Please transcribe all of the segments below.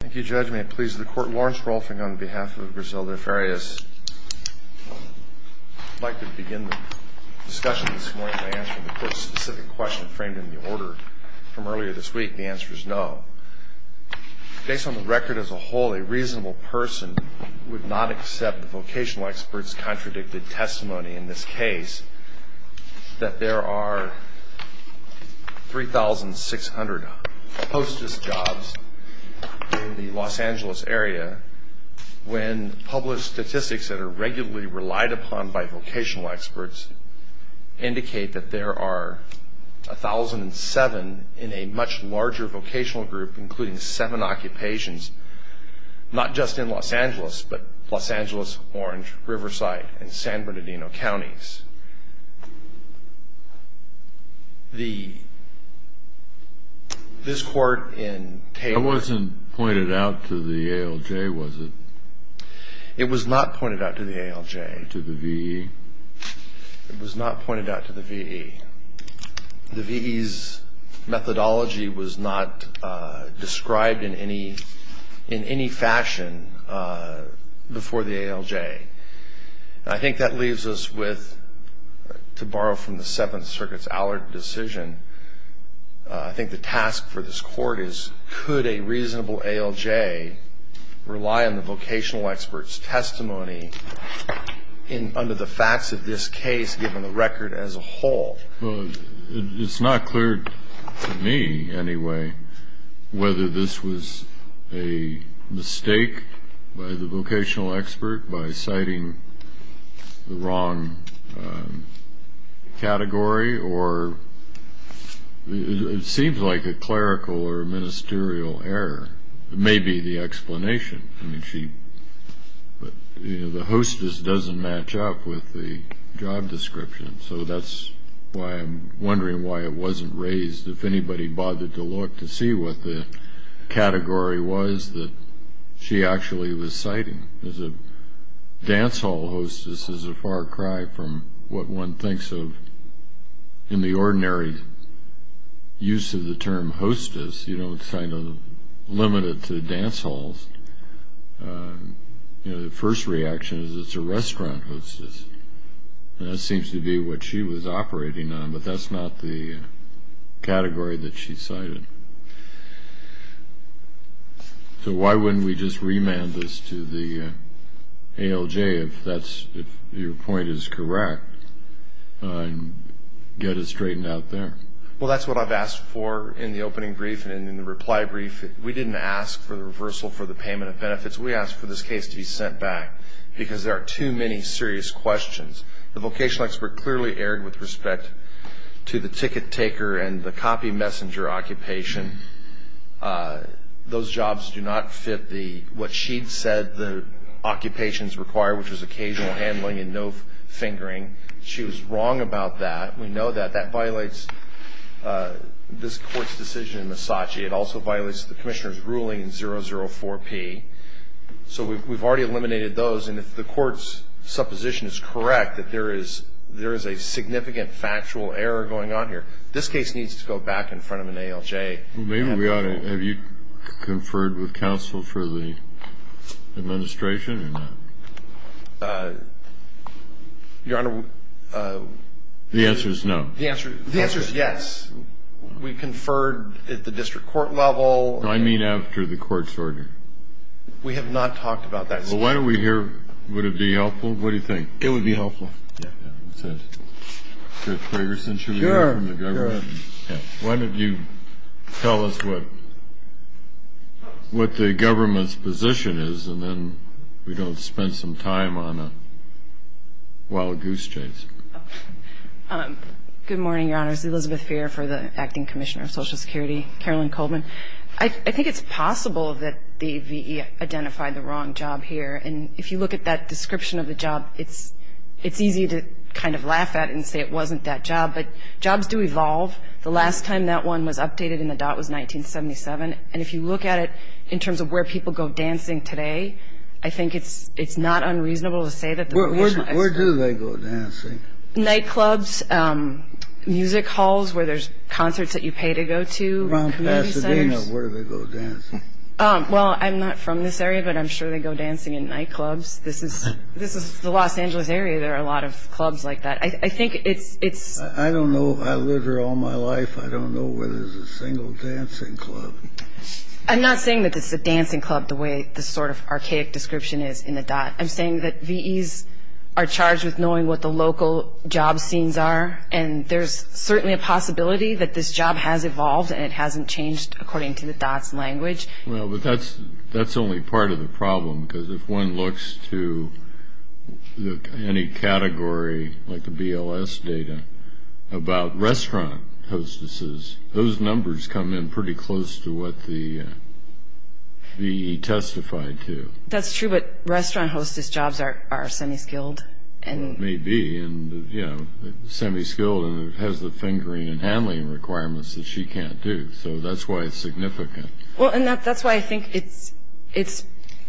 Thank you, Judge. May it please the Court, Lawrence Rolfing on behalf of Griselda Farias. I'd like to begin the discussion this morning by answering the Court's specific question framed in the order from earlier this week. The answer is no. Based on the record as a whole, a reasonable person would not accept the vocational expert's contradicted testimony in this case that there are 3,600 hostess jobs in the Los Angeles area when published statistics that are regularly relied upon by vocational experts indicate that there are 1,007 in a much larger vocational group including seven occupations, not just in Los Angeles, but Los Angeles, Orange, Riverside, and San Bernardino counties. This Court in Taylor... It wasn't pointed out to the ALJ, was it? It was not pointed out to the ALJ. To the VE? It was not pointed out to the VE. The VE's methodology was not described in any fashion before the ALJ. I think that leaves us with, to borrow from the Seventh Circuit's Allard decision, I think the task for this Court is could a reasonable ALJ rely on the vocational expert's testimony under the facts of this case given the record as a whole? It's not clear to me anyway whether this was a mistake by the vocational expert by citing the wrong category or it seems like a clerical or ministerial error. It may be the explanation. The hostess doesn't match up with the job description, so that's why I'm wondering why it wasn't raised. If anybody bothered to look to see what the category was that she actually was citing. A dance hall hostess is a far cry from what one thinks of in the ordinary use of the term hostess. You don't limit it to dance halls. The first reaction is it's a restaurant hostess. That seems to be what she was operating on, but that's not the category that she cited. So why wouldn't we just remand this to the ALJ if your point is correct and get it straightened out there? Well, that's what I've asked for in the opening brief and in the reply brief. We didn't ask for the reversal for the payment of benefits. We asked for this case to be sent back because there are too many serious questions. The vocational expert clearly erred with respect to the ticket taker and the copy messenger occupation. Those jobs do not fit what she'd said the occupations require, which was occasional handling and no fingering. She was wrong about that. We know that. That violates this court's decision in Misaci. It also violates the commissioner's ruling in 004P. So we've already eliminated those, and if the court's supposition is correct that there is a significant factual error going on here, this case needs to go back in front of an ALJ. Well, maybe we ought to have you conferred with counsel for the administration. Your Honor, the answer is no. The answer is yes. We conferred at the district court level. I mean after the court's order. We have not talked about that. Well, why don't we hear would it be helpful? What do you think? It would be helpful. Yeah. That's it. Judge Gregersen, should we hear from the government? Sure. Why don't you tell us what the government's position is, and then we don't spend some time on a wild goose chase. Good morning, Your Honors. Elizabeth Fair for the Acting Commissioner of Social Security. Carolyn Coleman. I think it's possible that the V.E. identified the wrong job here, and if you look at that description of the job, it's easy to kind of laugh at it and say it wasn't that job, but jobs do evolve. The last time that one was updated in the dot was 1977, and if you look at it in terms of where people go dancing today, I think it's not unreasonable to say that. Where do they go dancing? Nightclubs, music halls where there's concerts that you pay to go to, community centers. Around Pasadena, where do they go dancing? Well, I'm not from this area, but I'm sure they go dancing in nightclubs. This is the Los Angeles area. There are a lot of clubs like that. I think it's – I don't know. I lived here all my life. I don't know where there's a single dancing club. I'm not saying that this is a dancing club the way this sort of archaic description is in the dot. I'm saying that V.Es are charged with knowing what the local job scenes are, and there's certainly a possibility that this job has evolved and it hasn't changed according to the dot's language. Well, but that's only part of the problem, because if one looks to any category like the BLS data about restaurant hostesses, those numbers come in pretty close to what the V.E. testified to. That's true, but restaurant hostess jobs are semi-skilled. Maybe, and, you know, semi-skilled, and it has the fingering and handling requirements that she can't do. So that's why it's significant. Well, and that's why I think it's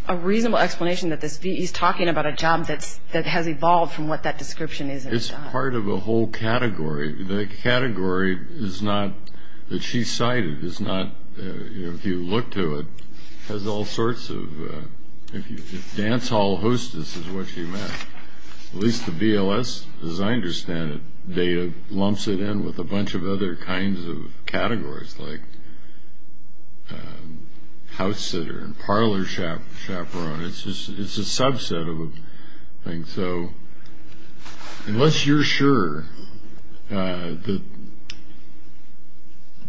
a reasonable explanation that this V.E. is talking about a job that has evolved from what that description is in the dot. It's part of a whole category. The category is not – that she cited is not – if you look to it, has all sorts of – dance hall hostess is what she meant. At least the BLS, as I understand it, lumps it in with a bunch of other kinds of categories like house sitter and parlor chaperone. It's a subset of a thing. So unless you're sure that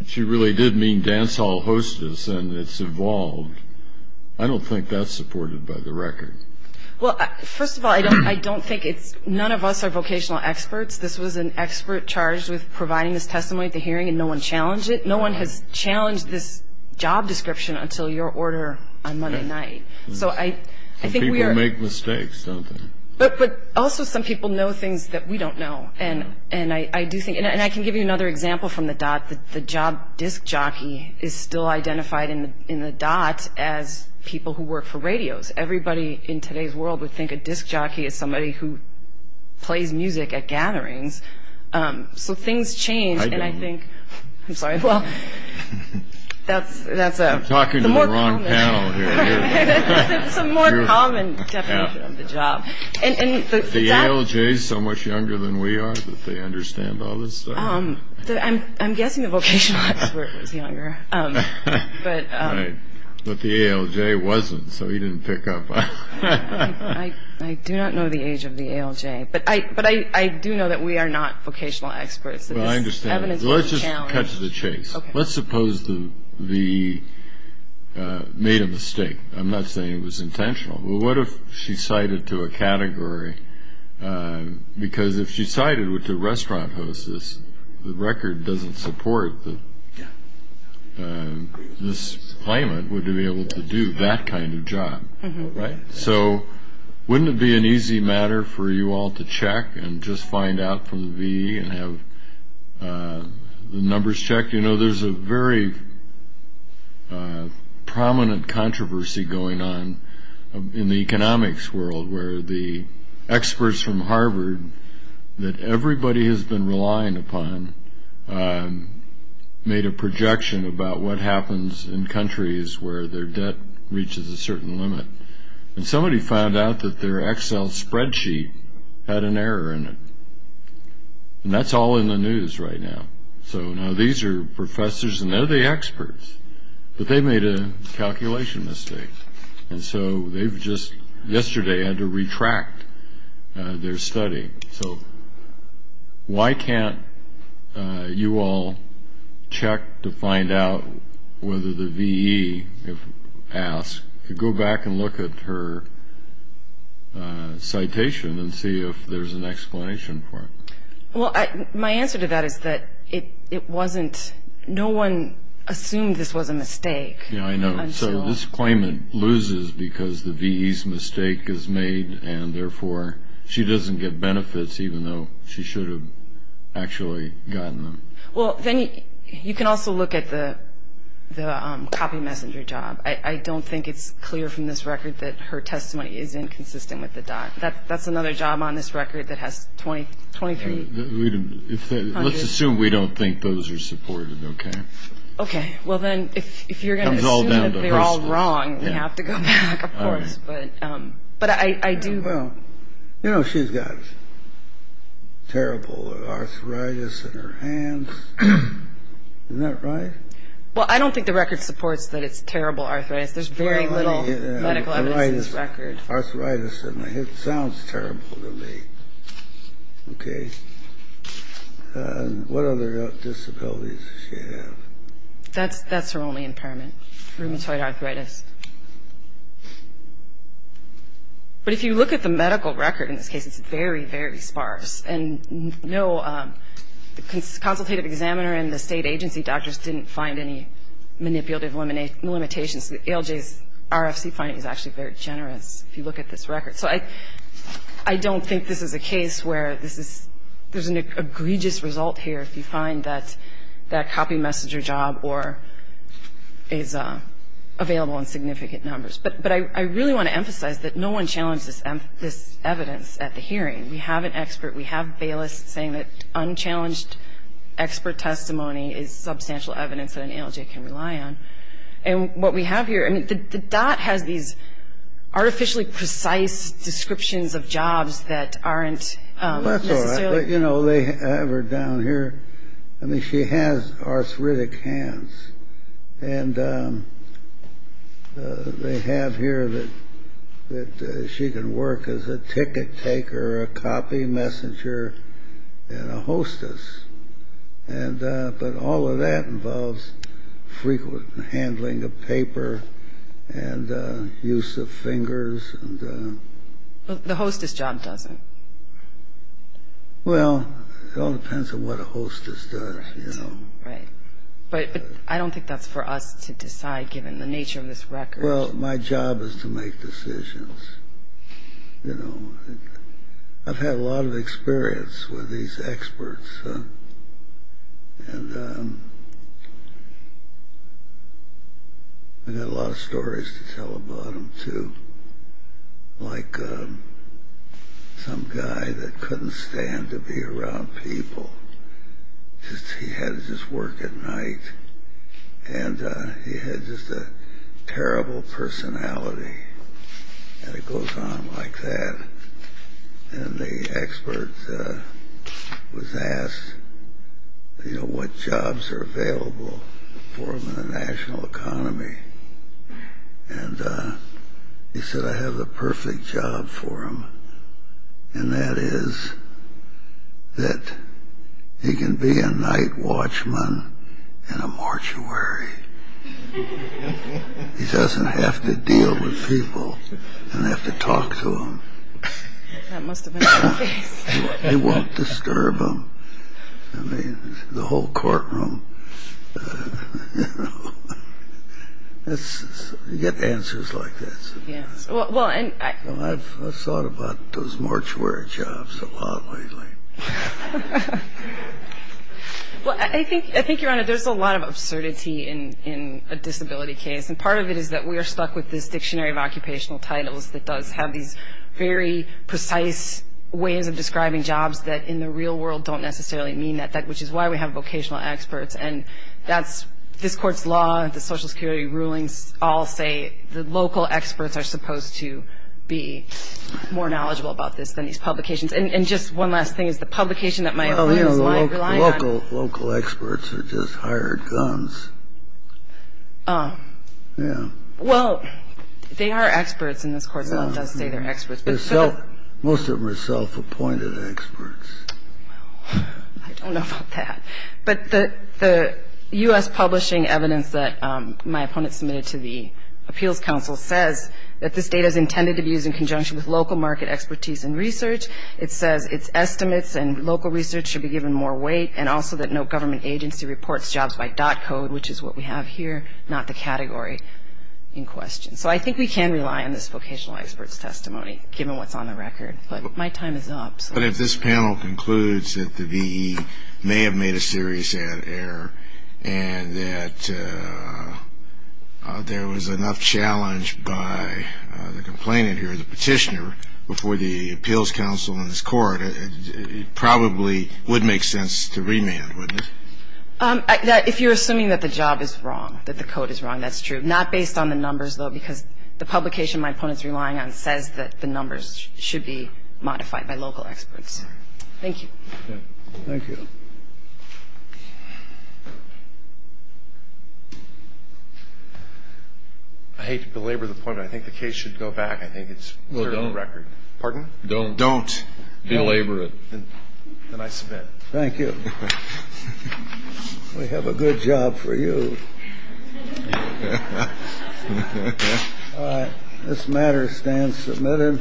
she really did mean dance hall hostess and it's evolved, I don't think that's supported by the record. Well, first of all, I don't think it's – none of us are vocational experts. This was an expert charged with providing this testimony at the hearing, and no one challenged it. No one has challenged this job description until your order on Monday night. So I think we are – Some people make mistakes, don't they? But also some people know things that we don't know. And I do think – and I can give you another example from the dot. The job disc jockey is still identified in the dot as people who work for radios. Everybody in today's world would think a disc jockey is somebody who plays music at gatherings. So things change, and I think – I don't. I'm sorry. Well, that's a – I'm talking to the wrong panel here. It's a more common definition of the job. The ALJ is so much younger than we are that they understand all this stuff? I'm guessing the vocational expert was younger. Right. But the ALJ wasn't, so he didn't pick up on it. I do not know the age of the ALJ. But I do know that we are not vocational experts. Well, I understand. This evidence was challenged. Let's just catch the chase. Let's suppose the – made a mistake. Well, what if she cited to a category? Because if she cited it to restaurant hostess, the record doesn't support that this claimant would be able to do that kind of job, right? So wouldn't it be an easy matter for you all to check and just find out from the V and have the numbers checked? You know, there's a very prominent controversy going on in the economics world where the experts from Harvard that everybody has been relying upon made a projection about what happens in countries where their debt reaches a certain limit. And somebody found out that their Excel spreadsheet had an error in it. And that's all in the news right now. So now these are professors, and they're the experts, but they made a calculation mistake. And so they've just yesterday had to retract their study. So why can't you all check to find out whether the VE, if asked, could go back and look at her citation and see if there's an explanation for it? Well, my answer to that is that it wasn't – no one assumed this was a mistake. Yeah, I know. So this claimant loses because the VE's mistake is made, and therefore she doesn't get benefits even though she should have actually gotten them. Well, then you can also look at the copy messenger job. I don't think it's clear from this record that her testimony is inconsistent with the doc. That's another job on this record that has 23. Let's assume we don't think those are supported, okay? Okay. Well, then if you're going to assume that they're all wrong, we have to go back, of course. But I do – Well, you know, she's got terrible arthritis in her hands. Isn't that right? Well, I don't think the record supports that it's terrible arthritis. There's very little medical evidence in this record. Arthritis. Arthritis. It sounds terrible to me. Okay. What other disabilities does she have? That's her only impairment, rheumatoid arthritis. But if you look at the medical record in this case, it's very, very sparse. And no, the consultative examiner and the state agency doctors didn't find any manipulative limitations. ALJ's RFC finding is actually very generous if you look at this record. So I don't think this is a case where this is – there's an egregious result here if you find that that copy messenger job or is available in significant numbers. But I really want to emphasize that no one challenged this evidence at the hearing. We have an expert. We have Bayless saying that unchallenged expert testimony is substantial evidence that an ALJ can rely on. And what we have here – I mean, the dot has these artificially precise descriptions of jobs that aren't necessarily – That's all right. But, you know, they have her down here. I mean, she has arthritic hands. And they have here that she can work as a ticket taker, a copy messenger, and a hostess. But all of that involves frequent handling of paper and use of fingers. The hostess job doesn't. Well, it all depends on what a hostess does, you know. Right. But I don't think that's for us to decide given the nature of this record. Well, my job is to make decisions, you know. I've had a lot of experience with these experts. And I've got a lot of stories to tell about them, too. Like some guy that couldn't stand to be around people. He had to just work at night. And he had just a terrible personality. And it goes on like that. And the expert was asked, you know, what jobs are available for him in the national economy. And he said, I have the perfect job for him. And that is that he can be a night watchman in a mortuary. He doesn't have to deal with people and have to talk to them. That must have been the case. He won't disturb them. I mean, the whole courtroom, you know. You get answers like this. Yes. Well, and I've thought about those mortuary jobs a lot lately. Well, I think, Your Honor, there's a lot of absurdity in a disability case. And part of it is that we are stuck with this dictionary of occupational titles that does have these very precise ways of describing jobs that in the real world don't necessarily mean that, which is why we have vocational experts. And that's this Court's law, the Social Security rulings all say the local experts are supposed to be more knowledgeable about this than these publications. And just one last thing is the publication that my opponent is relying on. Well, you know, the local experts are just hired guns. Yeah. Well, they are experts in this Court's law. It does say they're experts. Most of them are self-appointed experts. Well, I don't know about that. But the U.S. publishing evidence that my opponent submitted to the Appeals Council says that this data is intended to be used in conjunction with local market expertise and research. It says its estimates and local research should be given more weight, and also that no government agency reports jobs by dot code, which is what we have here, not the category in question. So I think we can rely on this vocational expert's testimony, given what's on the record. But my time is up. But if this panel concludes that the V.E. may have made a serious error and that there was enough challenge by the complainant here, the petitioner, before the Appeals Council and this Court, it probably would make sense to remand, wouldn't it? If you're assuming that the job is wrong, that the code is wrong, that's true. Not based on the numbers, though, because the publication my opponent is relying on says that the numbers should be modified by local experts. Thank you. Thank you. I hate to belabor the point, but I think the case should go back. I think it's clear on the record. Well, don't. Pardon? Don't. Don't belabor it. Then I submit. Thank you. We have a good job for you. This matter stands submitted.